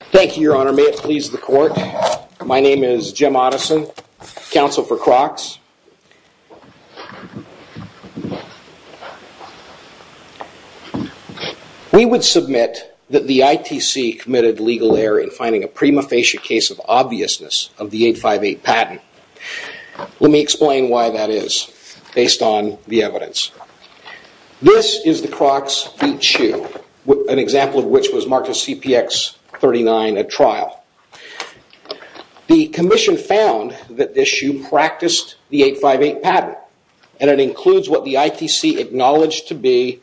Thank you, your honor. May it please the court. My name is Jim Otteson, counsel for Crocs. We would submit that the ITC committed legal error in finding a prima facie case of obviousness of the 858 patent. Let me explain why that is, based on the evidence. This is the Crocs shoe, an example of which was marked as CPX39 at trial. The commission found that this shoe practiced the 858 patent, and it includes what the ITC acknowledged to be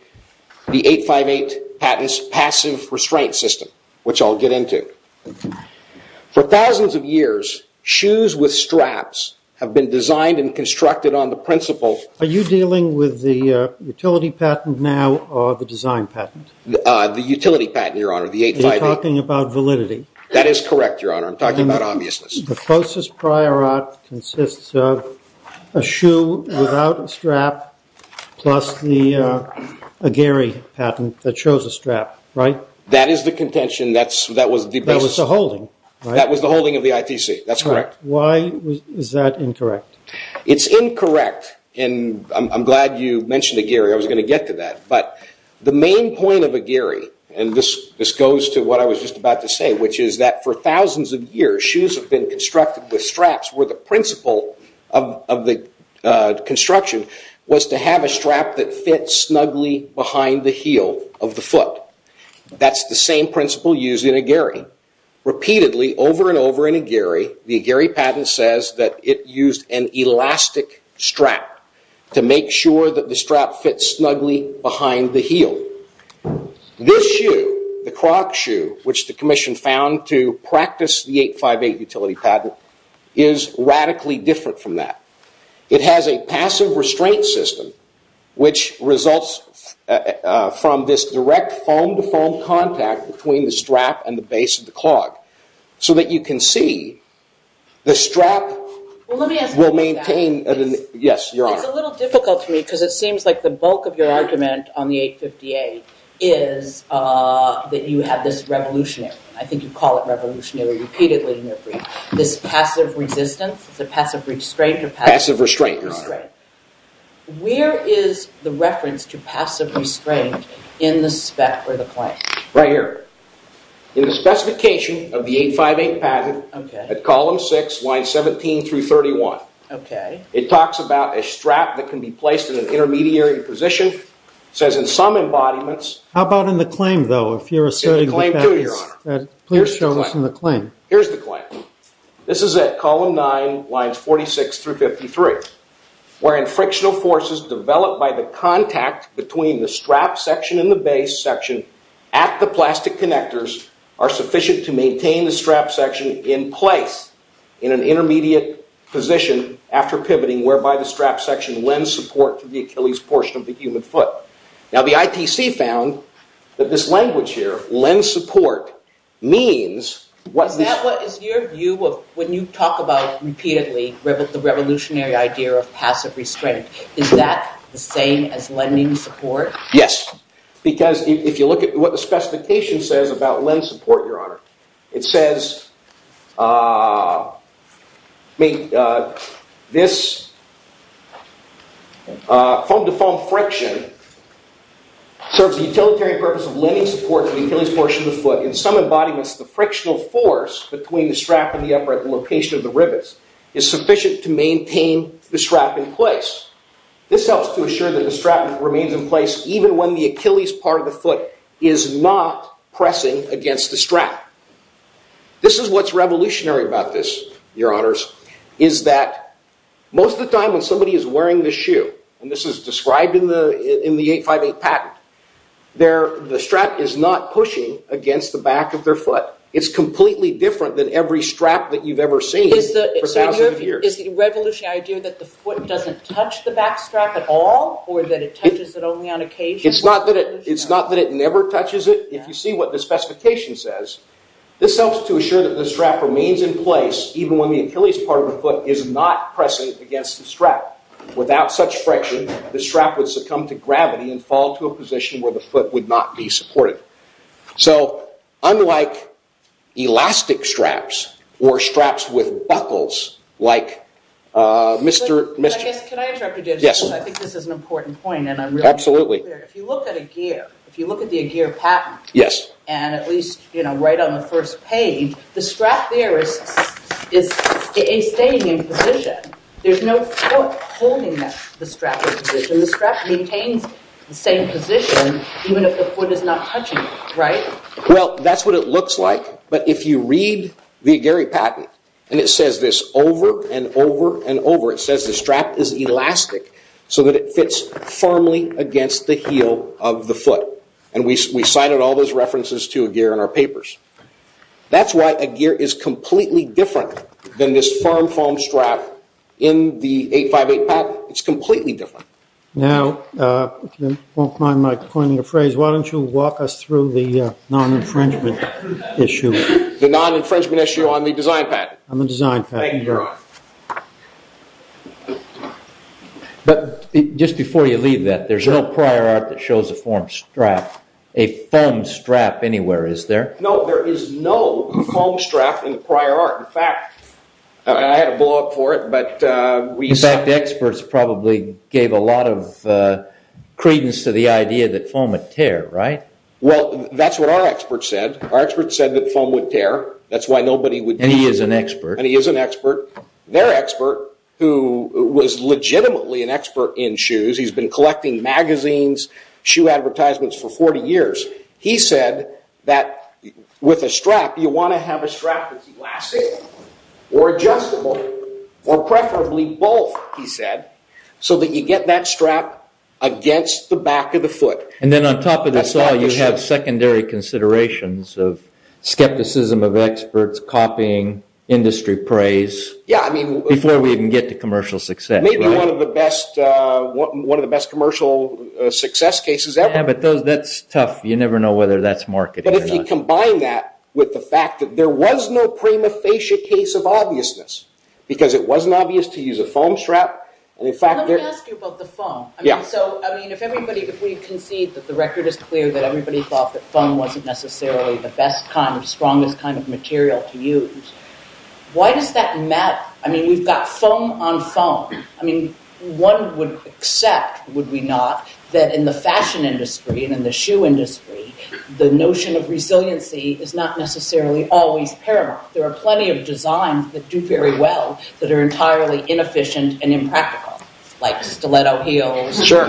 the 858 patent's passive restraint system, which I'll get into. For thousands of years, shoes with straps have been designed and constructed on the principle... Are you dealing with the utility patent now, or the design patent? The utility patent, your honor. The 858. You're talking about validity. That is correct, your honor. I'm talking about obviousness. The process prior art consists of a shoe without a strap, plus the Aguirre patent that shows a strap, right? That is the contention, that was the best... That was the holding, right? That was the holding of the ITC, that's correct. Why is that incorrect? It's incorrect, and I'm glad you mentioned Aguirre. I was going to get to that. The main point of Aguirre, and this goes to what I was just about to say, which is that for thousands of years, shoes have been constructed with straps, where the principle of the construction was to have a strap that fits snugly behind the heel of the foot. That's the same principle used in Aguirre. Repeatedly, over and over in Aguirre, the Aguirre patent says that it used an elastic strap to make sure that the strap fits snugly behind the heel. This shoe, the Croc shoe, which the commission found to practice the 858 utility patent, is radically different from that. It has a passive restraint system, which results from this direct foam-to-foam contact between the strap and the base of the clog, so that you can see the strap will maintain... Yes, you're on. It's a little difficult to me, because it seems like the bulk of your argument on the 858 is that you have this revolutionary, I think you call it revolutionary repeatedly in your brief, this passive resistance, is it passive restraint or passive... Passive restraint, your honor. Where is the reference to passive restraint in the spec or the claim? Right here. In the specification of the 858 patent, at column six, lines 17 through 31. Okay. It talks about a strap that can be placed in an intermediary position, says in some embodiments... How about in the claim though, if you're asserting the fact that... In the claim too, your honor. Please show us in the claim. Here's the claim. This is at column nine, lines 46 through 53, wherein frictional forces developed by the contact between the strap section and the base section at the plastic connectors are sufficient to maintain the strap section in place in an intermediate position after pivoting, whereby the strap section lends support to the Achilles portion of the human foot. Now, the ITC found that this language here, lends support, means what... Is that what is your view of when you talk about repeatedly the revolutionary idea of the same as lending support? Yes. Because if you look at what the specification says about lend support, your honor, it says... I mean, this... Foam-to-foam friction serves the utilitarian purpose of lending support to the Achilles portion of the foot. In some embodiments, the frictional force between the strap and the upper at the location of the rivets is sufficient to maintain the strap in place. This helps to assure that the strap remains in place even when the Achilles part of the foot is not pressing against the strap. This is what's revolutionary about this, your honors, is that most of the time when somebody is wearing the shoe, and this is described in the 858 patent, the strap is not pushing against the back of their foot. It's completely different than every strap that you've ever seen for thousands of years. Is the revolutionary idea that the foot doesn't touch the back strap at all, or that it touches it only on occasion? It's not that it never touches it. If you see what the specification says, this helps to assure that the strap remains in place even when the Achilles part of the foot is not pressing against the strap. Without such friction, the strap would succumb to gravity and fall to a position where the foot would not be supported. So, unlike elastic straps or straps with buckles, like Mr. Can I interrupt you, Judge? I think this is an important point. Absolutely. If you look at the Aguirre patent, and at least right on the first page, the strap there is staying in position. There's no foot holding the strap in position. The strap maintains the same position even if the foot is not touching it, right? Well, that's what it looks like. But if you read the Aguirre patent, and it says this over and over and over, it says the strap is elastic so that it fits firmly against the heel of the foot. And we cited all those references to Aguirre in our papers. That's why Aguirre is completely different than this firm foam strap in the 858 patent. It's completely different. Now, if you don't mind my pointing a phrase, why don't you walk us through the non-infringement issue? The non-infringement issue on the design patent. On the design patent. Thank you, Your Honor. But just before you leave that, there's no prior art that shows a foam strap anywhere, is there? No, there is no foam strap in the prior art. In fact, I had to blow up for it, but we have a lot of credence to the idea that foam would tear, right? Well, that's what our expert said. Our expert said that foam would tear. That's why nobody would... And he is an expert. And he is an expert. Their expert, who was legitimately an expert in shoes, he's been collecting magazines, shoe advertisements for 40 years. He said that with a strap, you want to have a strap that's elastic or adjustable, or preferably both, he said, so that you get that strap against the back of the foot. And then on top of this all, you have secondary considerations of skepticism of experts, copying, industry praise, before we even get to commercial success. Maybe one of the best commercial success cases ever. Yeah, but that's tough. You never know whether that's marketing or not. But if you combine that with the fact that there was no prima facie case of obviousness, because it wasn't obvious to use a foam strap, and in fact... Let me ask you about the foam. If we concede that the record is clear that everybody thought that foam wasn't necessarily the best kind of strongest kind of material to use, why does that matter? I mean, we've got foam on foam. One would accept, would we not, that in the fashion industry and in the shoe industry, the notion of resiliency is not necessarily always paramount. There are plenty of designs that do very well that are entirely inefficient and impractical. Like stiletto heels. Sure.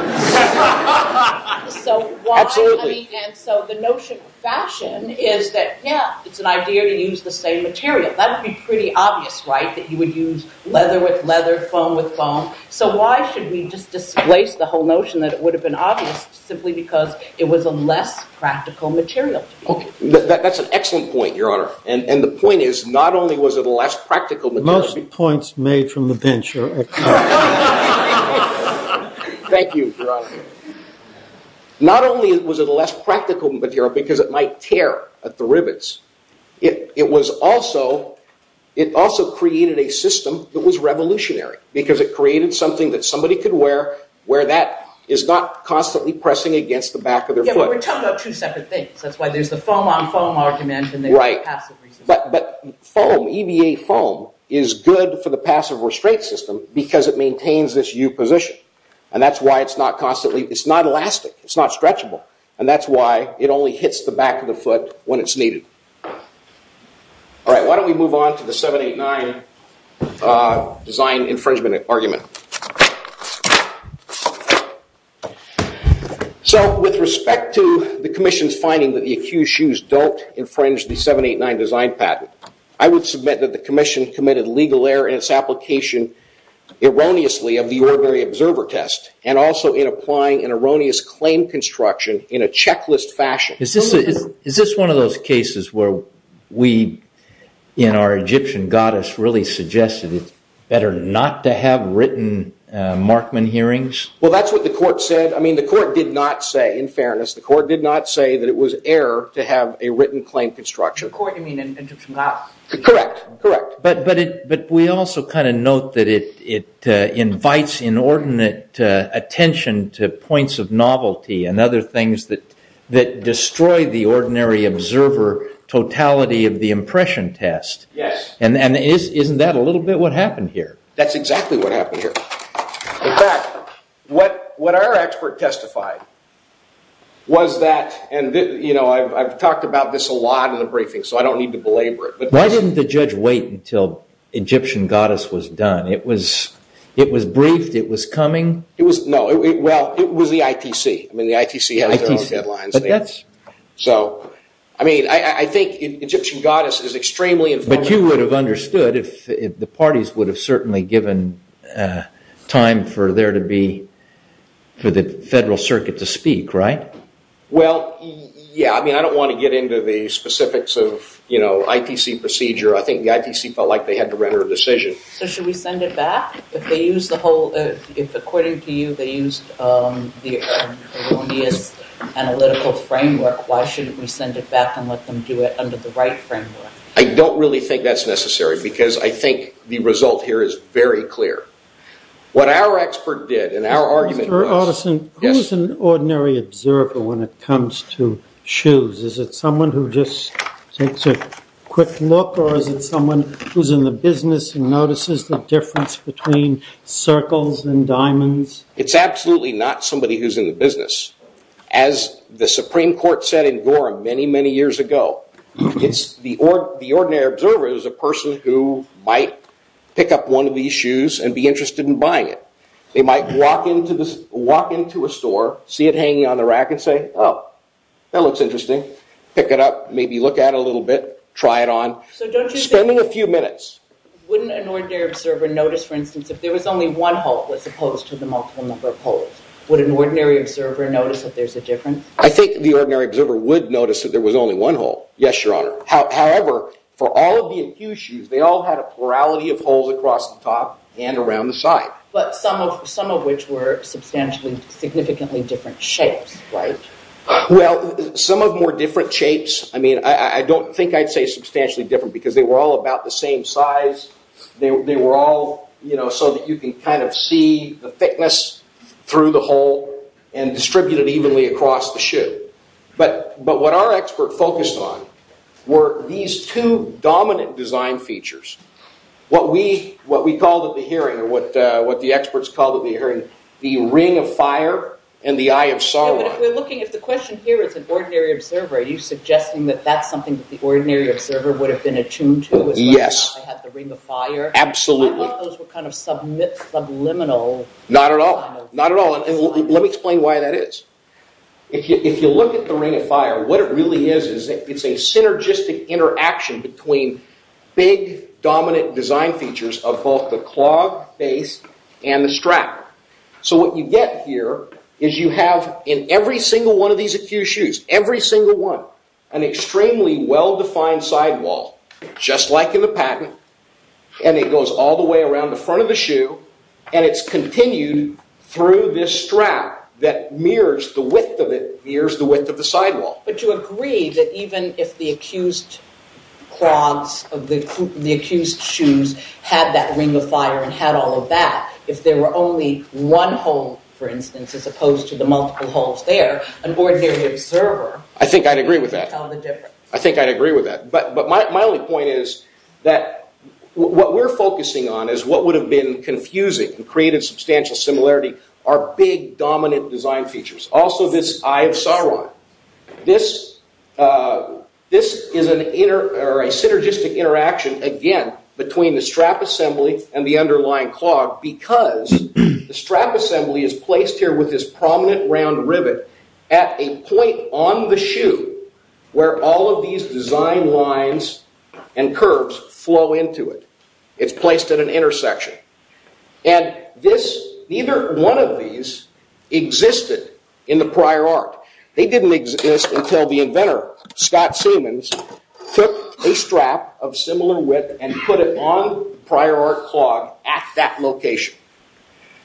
So why... Absolutely. And so the notion of fashion is that it's an idea to use the same material. That would be pretty obvious, right? That you would use leather with leather, foam with foam. So why should we just displace the whole notion that it would have been obvious simply because it was a less practical material? Okay, that's an excellent point, Your Honor. And the point is, not only was it a less practical material... Most points made from the bench are excellent. Thank you, Your Honor. Not only was it a less practical material because it might tear at the rivets, it also created a system that was revolutionary because it created something that somebody could wear where that is not constantly pressing against the back of their foot. Yeah, but we're talking about two separate things. That's why there's the foam on foam argument and there's the passive restraint system. But foam, EVA foam, is good for the passive restraint system because it maintains this U position. And that's why it's not constantly... It's not elastic. It's not stretchable. And that's why it only hits the back of the foot when it's needed. All right, why don't we move on to the 789 design infringement argument? So with respect to the commission's finding that the accused shoes don't infringe the 789 design patent, I would submit that the commission committed legal error in its application erroneously of the ordinary observer test, and also in applying an erroneous claim construction in a checklist fashion. Is this one of those cases where we, in our Egyptian goddess, really suggested it's better not to have written Markman hearings? Well, that's what the court said. I mean, the court did not say, in fairness, the court did not say that it was error to have a written claim construction. By court, you mean Egyptian goddess? Correct, correct. But we also kind of note that it invites inordinate attention to points of novelty and other things that destroy the ordinary observer totality of the impression test. Yes. And isn't that a little bit what happened here? That's exactly what happened here. In fact, what our expert testified was that... And I've talked about this a lot in the briefing, so I don't need to belabor it. Why didn't the judge wait until Egyptian goddess was done? It was briefed, it was coming. It was, no, well, it was the ITC. I mean, the ITC has their own deadlines. So, I mean, I think Egyptian goddess is extremely informative. But you would have understood if the parties would have certainly given time for there to be, for the federal circuit to speak, right? Well, yeah. I mean, I don't want to get into the specifics of, you know, ITC procedure. I think the ITC felt like they had to render a decision. So should we send it back if they use the whole... If, according to you, they used the erroneous analytical framework, why shouldn't we send it back and let them do it under the right framework? I don't really think that's necessary because I think the result here is very clear. What our expert did and our argument was... When it comes to shoes, is it someone who just takes a quick look or is it someone who's in the business and notices the difference between circles and diamonds? It's absolutely not somebody who's in the business. As the Supreme Court said in Gorham many, many years ago, it's the ordinary observer is a person who might pick up one of these shoes and be interested in buying it. They might walk into a store, see it hanging on the rack and say, oh, that looks interesting. Pick it up, maybe look at it a little bit, try it on, spending a few minutes. Wouldn't an ordinary observer notice, for instance, if there was only one hole as opposed to the multiple number of holes? Would an ordinary observer notice that there's a difference? I think the ordinary observer would notice that there was only one hole. Yes, Your Honor. However, for all of the infused shoes, they all had a plurality of holes across the top and around the side. But some of which were substantially, significantly different shapes, right? Well, some of them were different shapes. I mean, I don't think I'd say substantially different because they were all about the same size. They were all, you know, so that you can kind of see the thickness through the hole and distribute it evenly across the shoe. But what our expert focused on were these two dominant design features. What we called at the hearing, or what the experts called at the hearing, the ring of fire and the eye of Sauron. But if we're looking, if the question here is an ordinary observer, are you suggesting that that's something that the ordinary observer would have been attuned to? Yes. They had the ring of fire. Absolutely. I thought those were kind of subliminal. Not at all, not at all. Let me explain why that is. If you look at the ring of fire, what it really is, it's a synergistic interaction between big dominant design features of both the clog base and the strap. So what you get here is you have in every single one of these acute shoes, every single one, an extremely well-defined sidewall, just like in the patent. And it goes all the way around the front of the shoe. And it's continued through this strap that mirrors the width of it, mirrors the width of the sidewall. But you agree that even if the acute clogs of the acute shoes had that ring of fire and had all of that, if there were only one hole, for instance, as opposed to the multiple holes there, an ordinary observer... I think I'd agree with that. ...could tell the difference. I think I'd agree with that. But my only point is that what we're focusing on is what would have been confusing and created substantial similarity are big dominant design features. Also this eye of Sauron. This is a synergistic interaction, again, between the strap assembly and the underlying clog because the strap assembly is placed here with this prominent round rivet at a point on the shoe where all of these design lines and curves flow into it. It's placed at an intersection. And neither one of these existed in the prior art. They didn't exist until the inventor, Scott Siemens, took a strap of similar width and put it on the prior art clog at that location.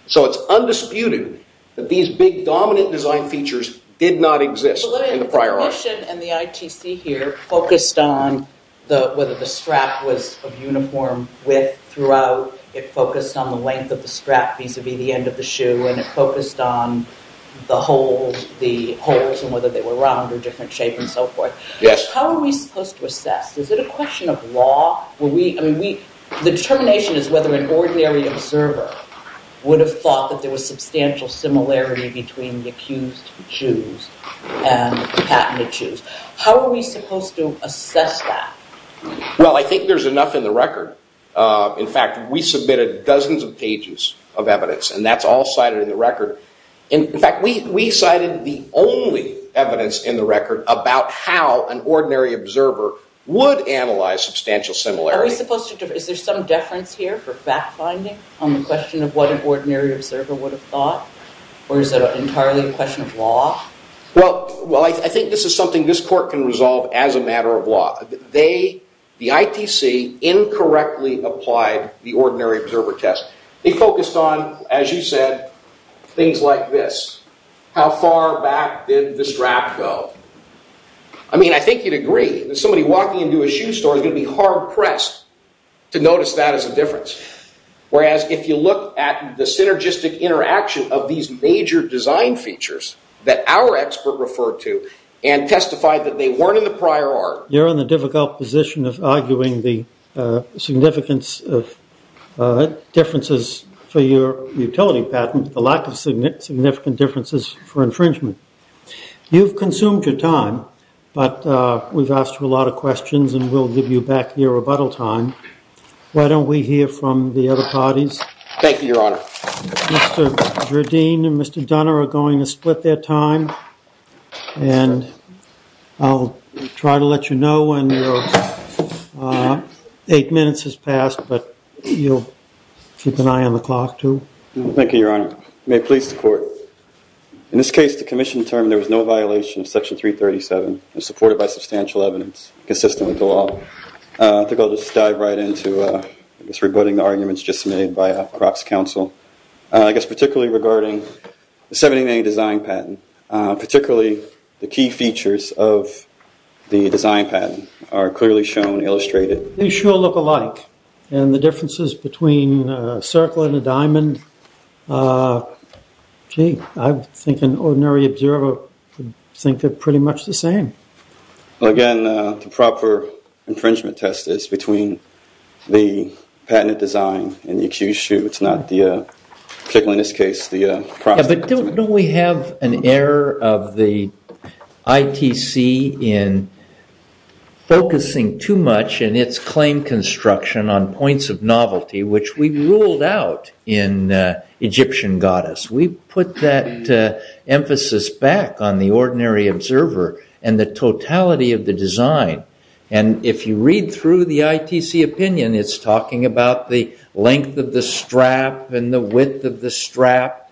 So it's undisputed that these big dominant design features did not exist in the prior art. The mission and the ITC here focused on whether the strap was of uniform width throughout. It focused on the length of the strap vis-a-vis the end of the shoe. And it focused on the holes and whether they were round or different shape and so forth. Yes. How are we supposed to assess? Is it a question of law? The determination is whether an ordinary observer would have thought that there was substantial similarity between the accused shoes and patented shoes. How are we supposed to assess that? Well, I think there's enough in the record. In fact, we submitted dozens of pages of evidence. And that's all cited in the record. In fact, we cited the only evidence in the record about how an ordinary observer would analyze substantial similarity. Are we supposed to... Is there some deference here for fact-finding on the question of what an ordinary observer would have thought? Or is it entirely a question of law? Well, I think this is something this court can resolve as a matter of law. The ITC incorrectly applied the ordinary observer test. They focused on, as you said, things like this. How far back did the strap go? I mean, I think you'd agree that somebody walking into a shoe store is going to be hard-pressed to notice that as a difference. Whereas if you look at the synergistic interaction of these major design features that our expert referred to and testified that they weren't in the prior art... You're in a difficult position of arguing the significance of differences for your utility patent, the lack of significant differences for infringement. You've consumed your time, but we've asked you a lot of questions and we'll give you back your rebuttal time. Why don't we hear from the other parties? Thank you, Your Honor. Mr. Jardine and Mr. Dunner are going to split their time. And I'll try to let you know when your eight minutes has passed, but you'll keep an eye on the clock too. Thank you, Your Honor. May it please the court. In this case, the commission determined there was no violation of Section 337 and supported by substantial evidence consistent with the law. I think I'll just dive right into, I guess, rebutting the arguments just made by Croc's counsel. I guess particularly regarding the 70-day design patent, particularly the key features of the design patent. Are clearly shown, illustrated. They sure look alike. And the differences between a circle and a diamond, gee, I think an ordinary observer would think they're pretty much the same. Well, again, the proper infringement test is between the patented design and the accused shoe. It's not the, particularly in this case, the Croc's. But don't we have an error of the ITC in focusing too much in its claim construction on points of novelty, which we ruled out in Egyptian Goddess. We put that emphasis back on the ordinary observer and the totality of the design. And if you read through the ITC opinion, it's talking about the length of the strap and the width of the strap,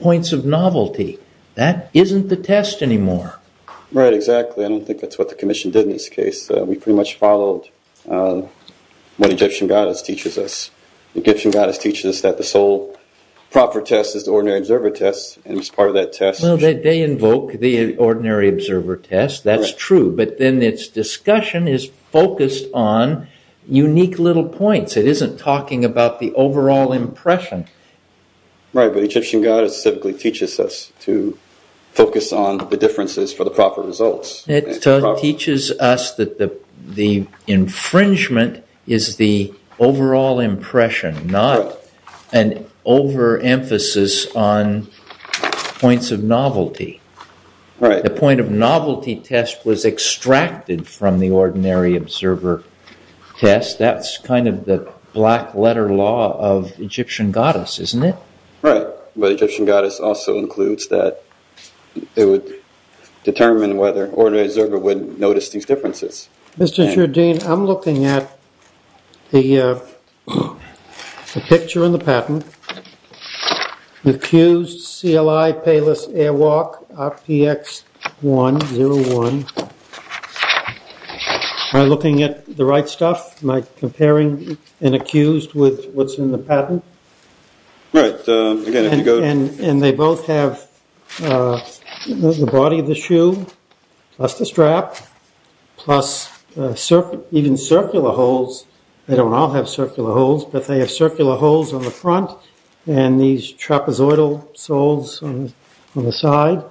points of novelty. That isn't the test anymore. Right, exactly. I don't think that's what the commission did in this case. We pretty much followed what Egyptian Goddess teaches us. The Egyptian Goddess teaches us that the sole proper test is the ordinary observer test. And as part of that test- No, they invoke the ordinary observer test. That's true. But then it's discussion is focused on unique little points. It isn't talking about the overall impression. Right, but Egyptian Goddess typically teaches us to focus on the differences for the proper results. It teaches us that the infringement is the overall impression, not an overemphasis on points of novelty. The point of novelty test was extracted from the ordinary observer test. That's kind of the black letter law of Egyptian Goddess, isn't it? Right, but Egyptian Goddess also includes that it would determine whether an ordinary observer would notice these differences. Mr. Jardine, I'm looking at the picture in the patent. Accused CLI Payless Airwalk RPX 101. Am I looking at the right stuff? Am I comparing an accused with what's in the patent? Right, again, if you go to- And they both have the body of the shoe, plus the strap, plus even circular holes. They don't all have circular holes, but they have circular holes on the front and these trapezoidal soles on the side.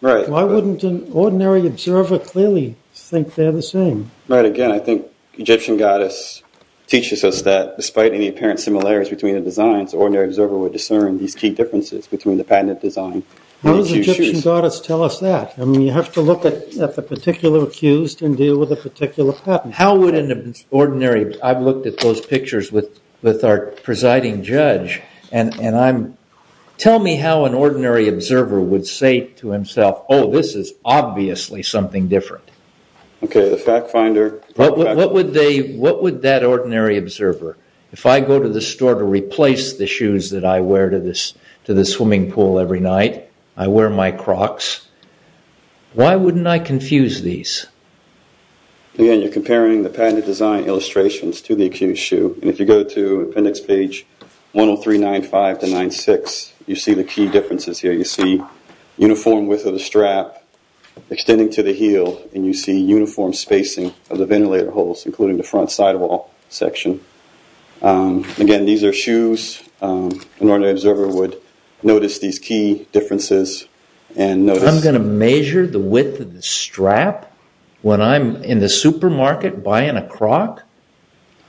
Why wouldn't an ordinary observer clearly think they're the same? Right, again, I think Egyptian Goddess teaches us that despite any apparent similarities between the designs, ordinary observer would discern these key differences between the patented design. How does Egyptian Goddess tell us that? I mean, you have to look at the particular accused and deal with a particular patent. How would an ordinary- I've looked at those pictures with our presiding judge and tell me how an ordinary observer would say to himself, oh, this is obviously something different. Okay, the fact finder- What would that ordinary observer, if I go to the store to replace the shoes that I wear to the swimming pool every night, I wear my Crocs, why wouldn't I confuse these? Again, you're comparing the patented design illustrations to the accused shoe. And if you go to appendix page 103.95 to 96, you see the key differences here. You see uniform width of the strap extending to the heel and you see uniform spacing of the ventilator holes, including the front sidewall section. And again, these are shoes. An ordinary observer would notice these key differences and notice- I'm going to measure the width of the strap when I'm in the supermarket buying a Croc?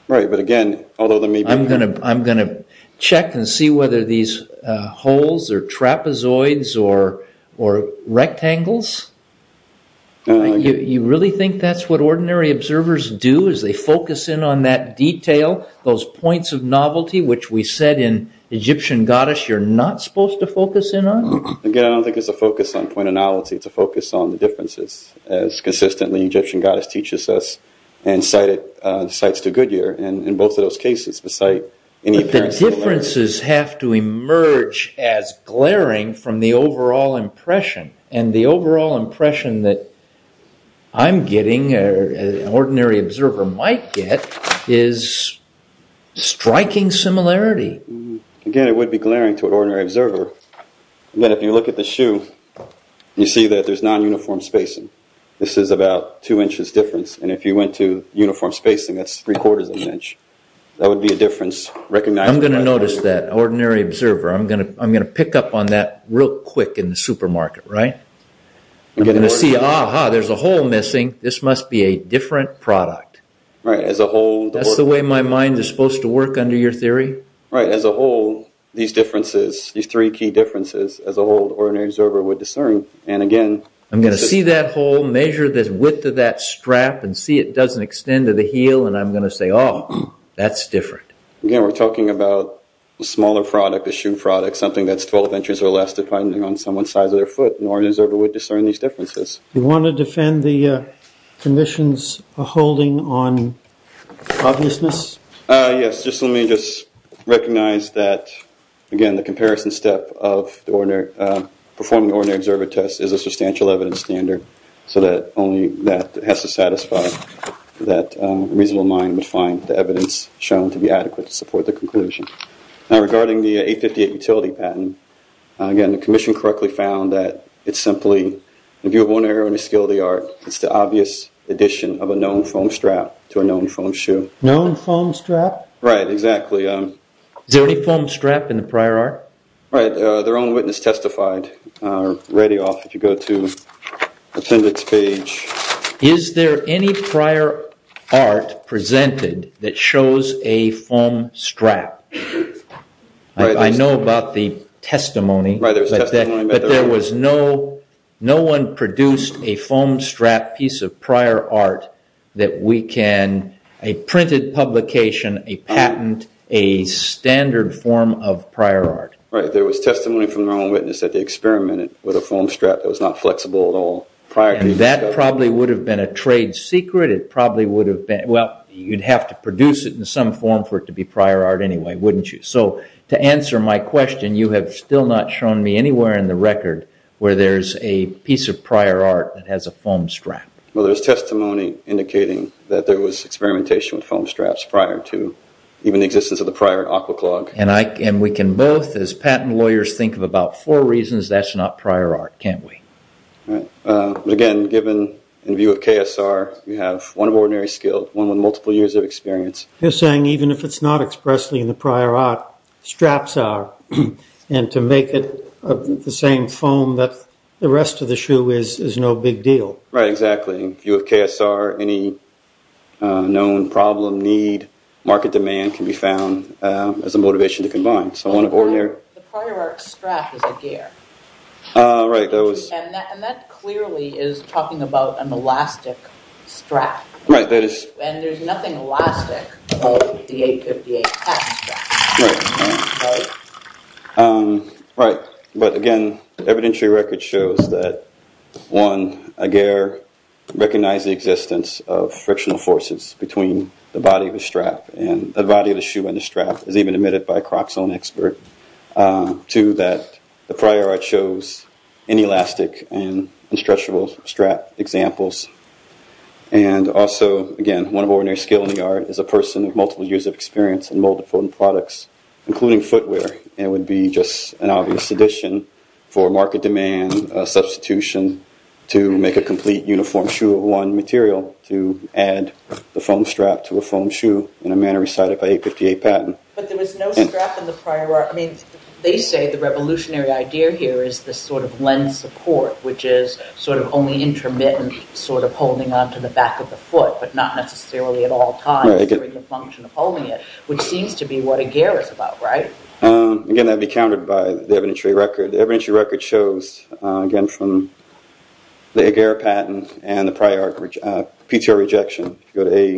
Right, but again, although there may be- I'm going to check and see whether these holes are trapezoids or rectangles. You really think that's what ordinary observers do as they focus in on that detail, those points of novelty, which we said in Egyptian Goddess, you're not supposed to focus in on? Again, I don't think it's a focus on point of novelty. It's a focus on the differences as consistently Egyptian Goddess teaches us and cites to Goodyear. And in both of those cases, the site- But the differences have to emerge as glaring from the overall impression. And the overall impression that I'm getting an ordinary observer might get is striking similarity. Again, it would be glaring to an ordinary observer. And then if you look at the shoe, you see that there's non-uniform spacing. This is about two inches difference. And if you went to uniform spacing, that's three quarters of an inch. That would be a difference recognized- I'm going to notice that, ordinary observer. I'm going to pick up on that real quick in the supermarket, right? I'm going to see, aha, there's a hole missing. This must be a different product. Right, as a whole- That's the way my mind is supposed to work under your theory. Right, as a whole, these differences, these three key differences, as a whole, ordinary observer would discern. And again- I'm going to see that hole, measure the width of that strap, and see it doesn't extend to the heel. And I'm going to say, oh, that's different. Again, we're talking about a smaller product, depending on someone's size of their foot. An ordinary observer would discern these differences. You want to defend the commission's holding on obviousness? Yes, just let me just recognize that, again, the comparison step of performing ordinary observer tests is a substantial evidence standard, so that only that has to satisfy that a reasonable mind would find the evidence shown to be adequate to support the conclusion. Now, regarding the 858 utility patent, again, the commission correctly found that it's simply- it's the obvious addition of a known foam strap to a known foam shoe. Known foam strap? Right, exactly. Is there any foam strap in the prior art? Right, their own witness testified. Ready off, if you go to the attendant's page. Is there any prior art presented that shows a foam strap? I know about the testimony, but there was no- no one produced a foam strap piece of prior art that we can- a printed publication, a patent, a standard form of prior art. Right, there was testimony from their own witness that they experimented with a foam strap that was not flexible at all prior. That probably would have been a trade secret. It probably would have been- well, you'd have to produce it in some form for it to be prior art anyway, wouldn't you? So, to answer my question, you have still not shown me anywhere in the record where there's a piece of prior art that has a foam strap. Well, there's testimony indicating that there was experimentation with foam straps prior to even the existence of the prior aqua clog. And I- and we can both, as patent lawyers, think of about four reasons that's not prior art, can't we? Right, but again, given in view of KSR, we have one of ordinary skill, one with multiple years of experience. You're saying even if it's not expressly in the prior art, straps are. And to make it the same foam that the rest of the shoe is, is no big deal. Right, exactly. In view of KSR, any known problem, need, market demand can be found as a motivation to combine. So, one of ordinary- The prior art strap is a gear. Ah, right, that was- And that clearly is talking about an elastic strap. Right, that is- And there's nothing elastic about the 858F strap. Right. Right. But again, evidentiary record shows that, one, a gear recognized the existence of frictional forces between the body of the strap and the body of the shoe and the strap is even admitted by a croxone expert. Two, that the prior art shows inelastic and unstretchable strap examples. And also, again, one of ordinary skill in the art is a person with multiple years of experience in molded foam products, including footwear. It would be just an obvious addition for market demand, a substitution to make a complete uniform shoe of one material to add the foam strap to a foam shoe in a manner recited by 858 Patton. But there was no strap in the prior art. I mean, they say the revolutionary idea here is this sort of lens support, which is sort of only intermittent, sort of holding onto the back of the foot, but not necessarily at all times during the function of holding it, which seems to be what a gear is about, right? Again, that'd be countered by the evidentiary record. The evidentiary record shows, again, from the agar Patton and the prior art PTO rejection. If you go to A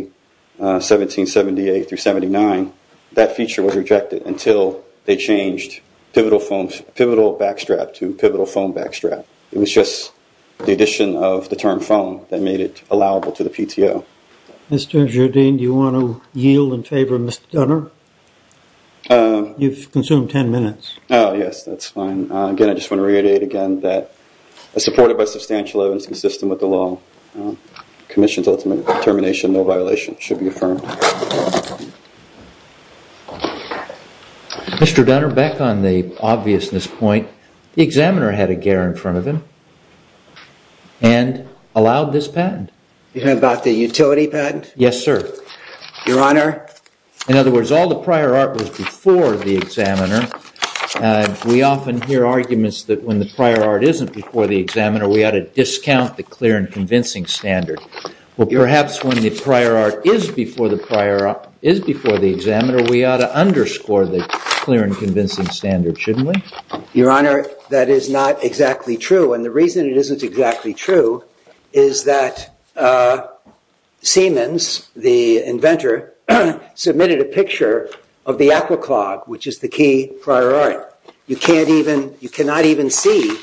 1778 through 79, that feature was rejected until they changed pivotal foam, pivotal back strap to pivotal foam back strap. It was just the addition of the term foam that made it allowable to the PTO. Mr. Jardine, do you want to yield in favor of Mr. Gunner? You've consumed 10 minutes. Oh, yes, that's fine. Again, I just want to reiterate again that as supported by substantial evidence consistent with the law, commission's ultimate determination, no violation should be affirmed. Mr. Gunner, back on the obviousness point, the examiner had a gear in front of him and allowed this patent. Yes, sir. Your honor. In other words, all of the items the prior art was before the examiner. We often hear arguments that when the prior art isn't before the examiner, we ought to discount the clear and convincing standard. Well, perhaps when the prior art is before the examiner, we ought to underscore the clear and convincing standard, shouldn't we? Your honor, that is not exactly true. And the reason it isn't exactly true is that Siemens, the inventor, submitted a picture of the aqua clog, which is the key prior art. You cannot even see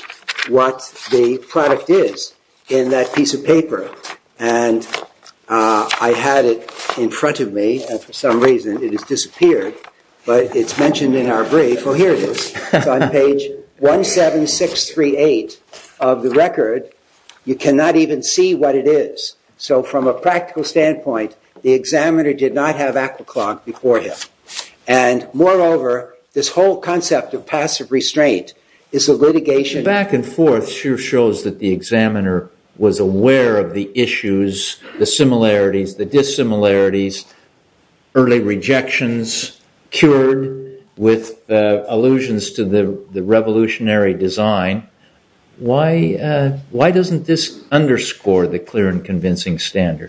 what the product is in that piece of paper. And I had it in front of me. And for some reason, it has disappeared. But it's mentioned in our brief. Well, here it is. It's on page 17638 of the record. You cannot even see what it is. So from a practical standpoint, the examiner did not have aqua clog before him. And moreover, this whole concept of passive restraint is a litigation. Back and forth sure shows that the examiner was aware of the issues, the similarities, the dissimilarities, early rejections, cured with allusions to the revolutionary design. Why doesn't this underscore the clear and convincing standard?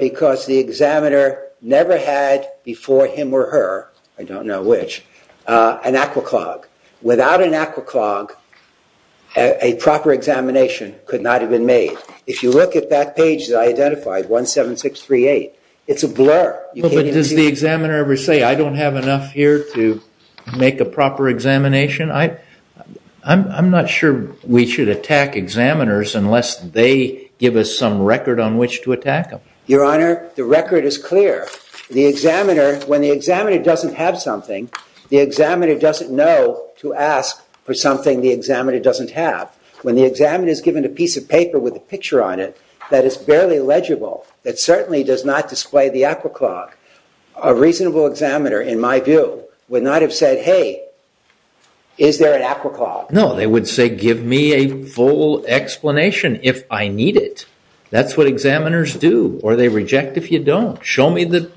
Because the examiner never had before him or her, I don't know which, an aqua clog. Without an aqua clog, a proper examination could not have been made. If you look at that page that I identified, 17638, it's a blur. Does the examiner ever say, I don't have enough here to make a proper examination? I'm not sure we should attack examiners unless they give us some record on which to attack them. Your Honor, the record is clear. The examiner, when the examiner doesn't have something, the examiner doesn't know to ask for something the examiner doesn't have. When the examiner is given a piece of paper with a picture on it that is barely legible, that certainly does not display the aqua clog, a reasonable examiner, in my view, would not have said, hey, is there an aqua clog? No, they would say, give me a full explanation if I need it. That's what examiners do, or they reject if you don't. Show me the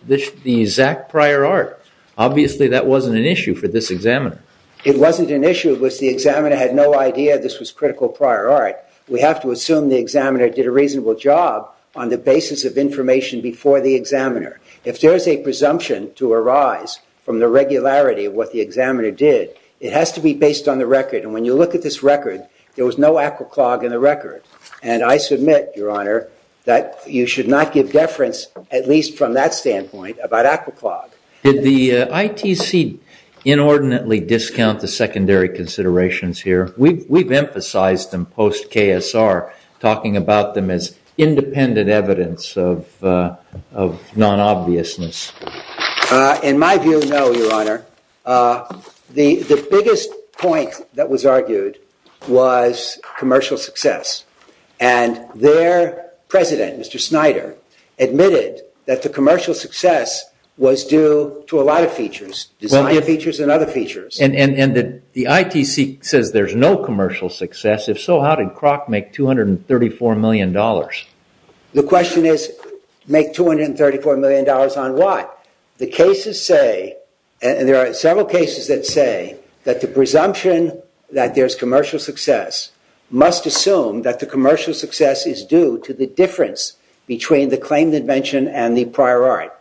exact prior art. Obviously, that wasn't an issue for this examiner. It wasn't an issue. It was the examiner had no idea this was critical prior art. We have to assume the examiner did a reasonable job on the basis of information before the examiner. If there is a presumption to arise from the regularity of what the examiner did, it has to be based on the record. And when you look at this record, there was no aqua clog in the record. And I submit, Your Honor, that you should not give deference, at least from that standpoint, about aqua clog. Did the ITC inordinately discount the secondary considerations here? We've emphasized them post-KSR, talking about them as independent evidence of non-obviousness. In my view, no, Your Honor. The biggest point that was argued was commercial success. And their president, Mr. Snyder, admitted that the commercial success was due to a lot of features, design features and other features. And the ITC says there's no commercial success. If so, how did Kroc make $234 million? The question is, make $234 million on what? The cases say, and there are several cases that say, that the presumption that there's commercial success must assume that the commercial success is due to the difference between the claim that mentioned and the prior art.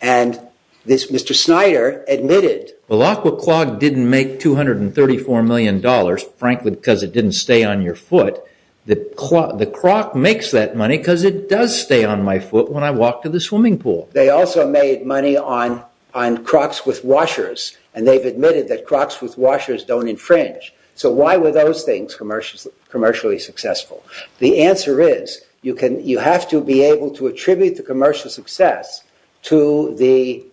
And Mr. Snyder admitted, well, aqua clog didn't make $234 million, frankly, because it didn't stay on your foot. The Kroc makes that money because it does stay on my foot when I walk to the swimming pool. They also made money on Kroc's with washers. And they've admitted that Kroc's with washers don't infringe. So why were those things commercially successful? The answer is, you have to be able to attribute the commercial success to the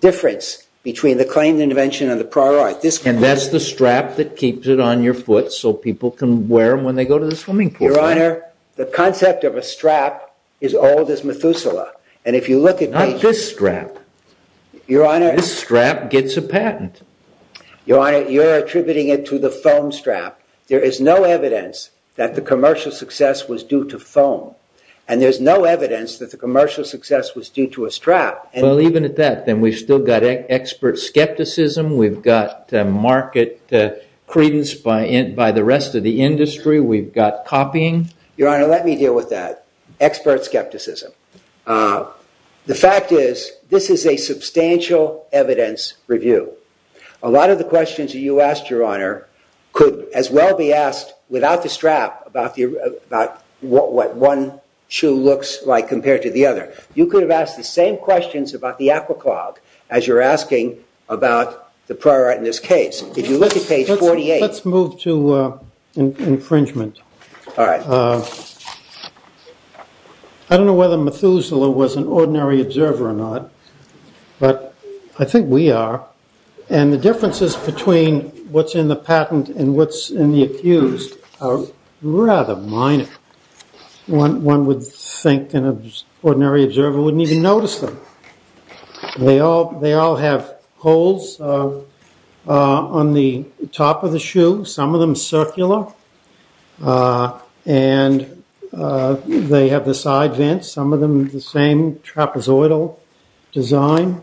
difference between the claim invention and the prior art. And that's the strap that keeps it on your foot so people can wear them when they go to the swimming pool. The concept of a strap is old as Methuselah. And if you look at these- Not this strap. Your Honor- This strap gets a patent. Your Honor, you're attributing it to the foam strap. There is no evidence that the commercial success was due to foam. And there's no evidence that the commercial success was due to a strap. Well, even at that, then we've still got expert skepticism. We've got market credence by the rest of the industry. We've got copying. Your Honor, let me deal with that. Expert skepticism. The fact is, this is a substantial evidence review. A lot of the questions you asked, Your Honor, could as well be asked without the strap about what one shoe looks like compared to the other. You could have asked the same questions about the AquaClog as you're asking about the prior art in this case. If you look at page 48- Let's move to infringement. I don't know whether Methuselah was an ordinary observer or not, but I think we are. And the differences between what's in the patent and what's in the accused are rather minor. One would think an ordinary observer wouldn't even notice them. They all have holes on the top of the shoe, some of them circular, and they have the side vents, some of them the same trapezoidal design.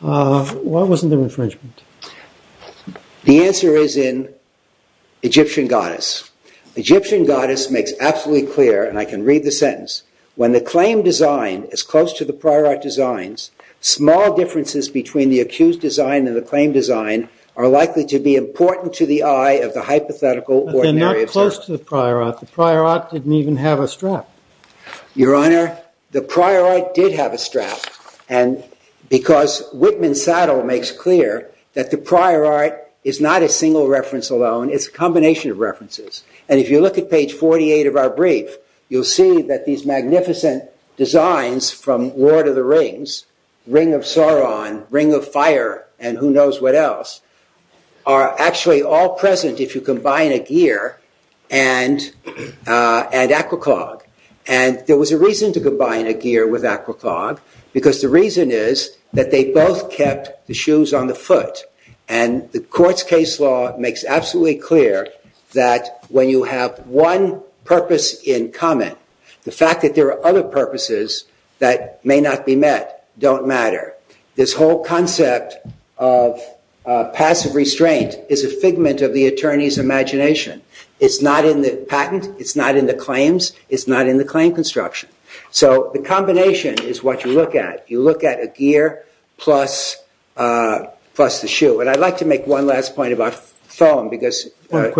What was in the infringement? The answer is in Egyptian goddess. Egyptian goddess makes absolutely clear, and I can read the sentence, when the claim design is close to the prior art designs, small differences between the accused design and the claim design are likely to be important to the eye of the hypothetical ordinary observer. But they're not close to the prior art. The prior art didn't even have a strap. Your Honor, the prior art did have a strap. And because Whitman Saddle makes clear that the prior art is not a single reference alone, it's a combination of references. And if you look at page 48 of our brief, you'll see that these magnificent designs from Lord of the Rings, Ring of Sauron, Ring of Fire, and who knows what else, are actually all present if you combine a gear and aqua clog. And there was a reason to combine a gear with aqua clog, because the reason is that they both kept the shoes on the foot. And the court's case law makes absolutely clear that when you have one purpose in common, the fact that there are other purposes that may not be met don't matter. This whole concept of passive restraint is a figment of the attorney's imagination. It's not in the patent. It's not in the claims. It's not in the claim construction. So the combination is what you look at. You look at a gear plus the shoe. And I'd like to make one last point about foam, because Judge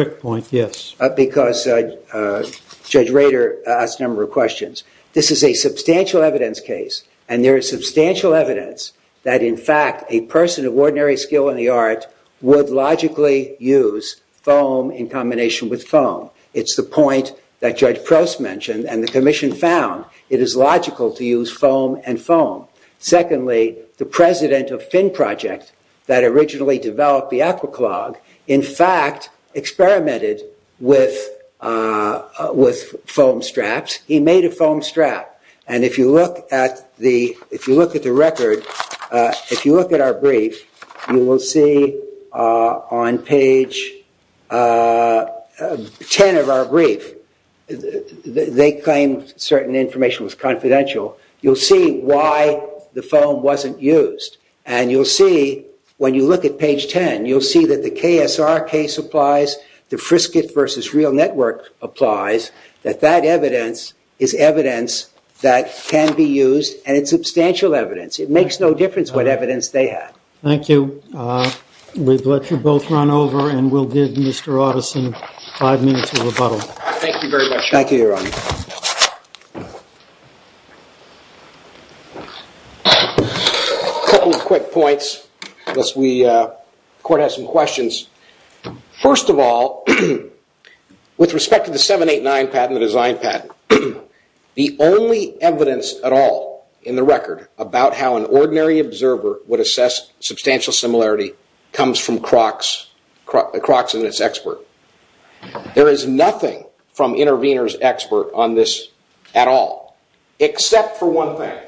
Rader asked a number of questions. This is a substantial evidence case. And there is substantial evidence that, in fact, a person of ordinary skill in the art would logically use foam in combination with foam. It's the point that Judge Prost mentioned and the commission found. It is logical to use foam and foam. Secondly, the president of Finn Project that originally developed the aqua clog, in fact, experimented with foam straps. He made a foam strap. And if you look at the record, if you look at our brief, you will see on page 10 of our brief, they claim certain information was confidential. You'll see why the foam wasn't used. And you'll see, when you look at page 10, you'll see that the KSR case applies, the Frisket versus Real Network applies, that that evidence is evidence that can be used. And it's substantial evidence. It makes no difference what evidence they have. Thank you. We've let you both run over. And we'll give Mr. Otteson five minutes of rebuttal. Thank you very much. Thank you, Your Honor. Thank you. A couple of quick points, unless the court has some questions. First of all, with respect to the 789 patent, the design patent, the only evidence at all in the record about how an ordinary observer would assess substantial similarity comes from Crocks and its expert. There is nothing from intervener's expert on this at all, except for one thing.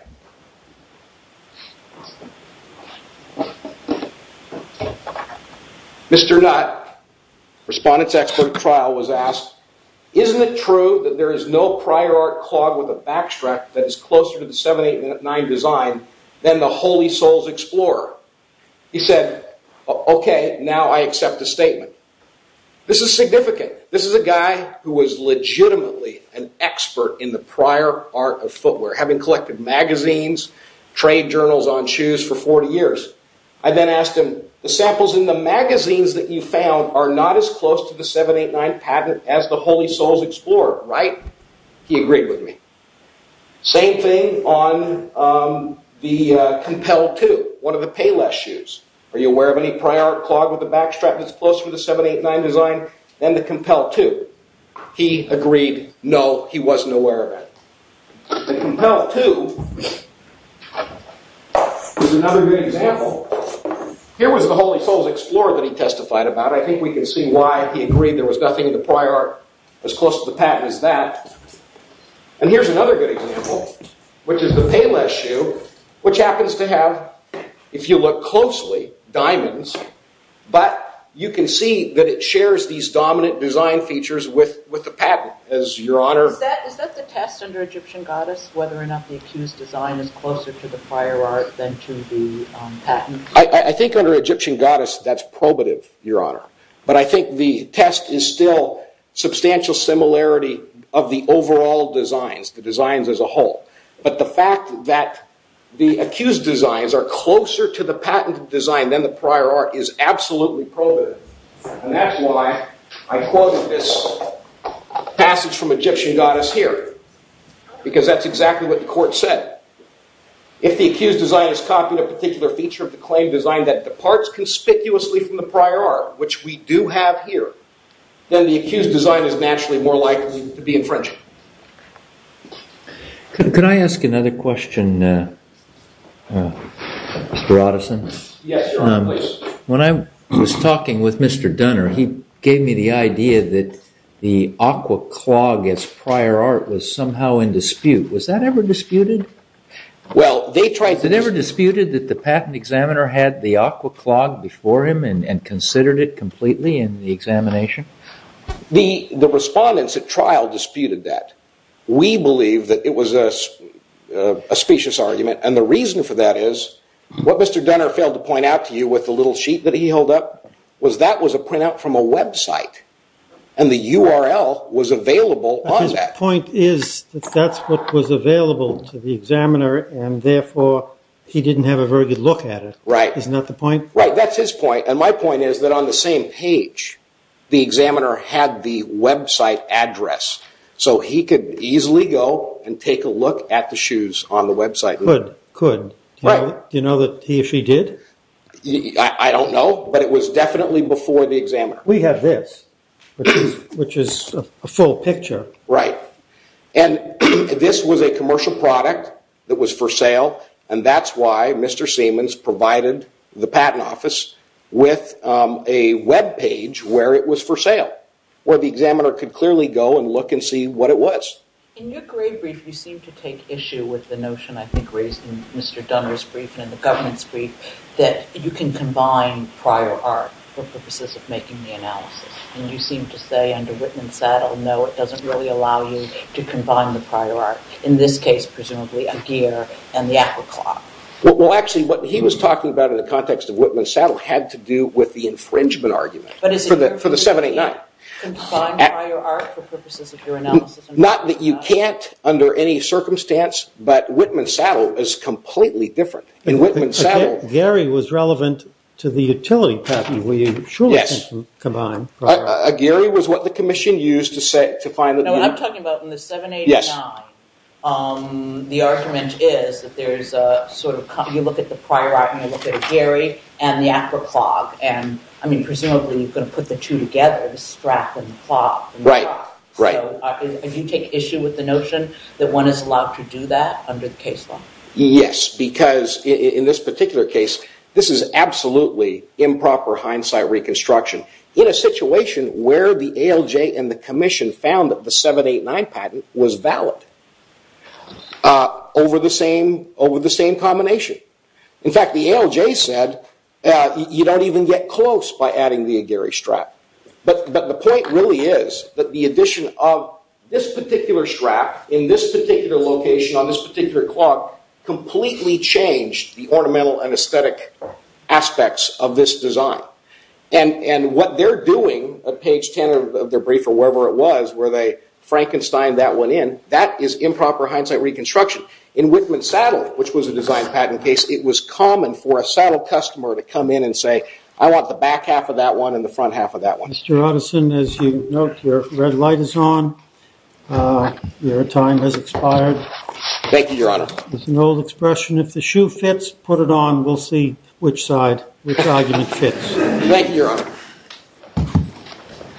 Mr. Nutt, respondent's expert at trial, was asked, isn't it true that there is no prior art clogged with a backstrap that is closer to the 789 design than the Holy Souls Explorer? He said, OK, now I accept the statement. This is significant. This is a guy who was legitimately an expert in the prior art of footwear, having collected magazines, trade journals on shoes for 40 years. I then asked him, the samples in the magazines that you found are not as close to the 789 patent as the Holy Souls Explorer, right? He agreed with me. Same thing on the Compel II, one of the Payless shoes. Are you aware of any prior art clogged with a backstrap that's closer to the 789 design than the Compel II? He agreed, no, he wasn't aware of it. The Compel II is another good example. Here was the Holy Souls Explorer that he testified about. I think we can see why he agreed there was nothing in the prior art as close to the patent as that. And here's another good example, which is the Payless shoe, which happens to have, if you look closely, diamonds. But you can see that it shares these dominant design features with the patent, as your honor. Is that the test under Egyptian goddess, whether or not the accused design is closer to the prior art than to the patent? I think under Egyptian goddess, that's probative, your honor. But I think the test is still substantial similarity of the overall designs, the designs as a whole. But the fact that the accused designs are closer to the patent design than the prior art is absolutely probative. And that's why I quoted this passage from Egyptian goddess here, because that's exactly what the court said. If the accused design is copying a particular feature of the claim design that departs conspicuously from the prior art, which we do have here, then the accused design is naturally more likely to be infringing. Could I ask another question, Mr. Otteson? Yes, your honor, please. When I was talking with Mr. Dunner, he gave me the idea that the aqua clog as prior art was somehow in dispute. Was that ever disputed? Well, they tried to. They never disputed that the patent examiner had the aqua clog before him and considered it completely in the examination? The respondents at trial disputed that. We believe that it was a specious argument. And the reason for that is what Mr. Dunner failed to point out to you with the little sheet that he held up was that was a printout from a website. And the URL was available on that. But his point is that that's what was available to the examiner, and therefore, he didn't have a very good look at it. Isn't that the point? Right. That's his point. And my point is that on the same page, the examiner had the website address. So he could easily go and take a look at the shoes on the website. Could. Could. Do you know that he or she did? I don't know, but it was definitely before the examiner. We have this, which is a full picture. Right. And this was a commercial product that was for sale. And that's why Mr. Siemens provided the patent office with a web page where it was for sale, where the examiner could clearly go and look and see what it was. In your grade brief, you seem to take issue with the notion I think raised in Mr. Dunner's brief and in the government's brief that you can combine prior art for purposes of making the analysis. And you seem to say under Whitman Saddle, no, it doesn't really allow you to combine the prior art. In this case, presumably, a gear and the apple clock. Well, actually, what he was talking about in the context of Whitman Saddle had to do with the infringement argument for the 789. Combine prior art for purposes of your analysis? Not that you can't under any circumstance, but Whitman Saddle is completely different. In Whitman Saddle. Gary was relevant to the utility patent, where you surely can combine prior art. Gary was what the commission used to say to find the. No, what I'm talking about in the 789, the argument is that there is a sort of, you look at the prior art, and you look at Gary, and the apple clock. And I mean, presumably, you're going to put the two together, the strap and the clock. Right, right. Do you take issue with the notion that one is allowed to do that under the case law? Yes, because in this particular case, this is absolutely improper hindsight reconstruction. In a situation where the ALJ and the commission found that the 789 patent was valid over the same combination. In fact, the ALJ said, you don't even get close by adding the Gary strap. But the point really is that the addition of this particular strap in this particular location, on this particular clock, completely changed the ornamental and aesthetic aspects of this design. And what they're doing at page 10 of their brief, or wherever it was, where they Frankensteined that one in, that is improper hindsight reconstruction. In Whitman Saddle, which was a design patent case, it was common for a Saddle customer to come in and say, I want the back half of that one and the front half of that one. Mr. Utterson, as you note, your red light is on. Your time has expired. Thank you, Your Honor. There's an old expression, if the shoe fits, put it on. We'll see which side, which argument fits. Thank you, Your Honor.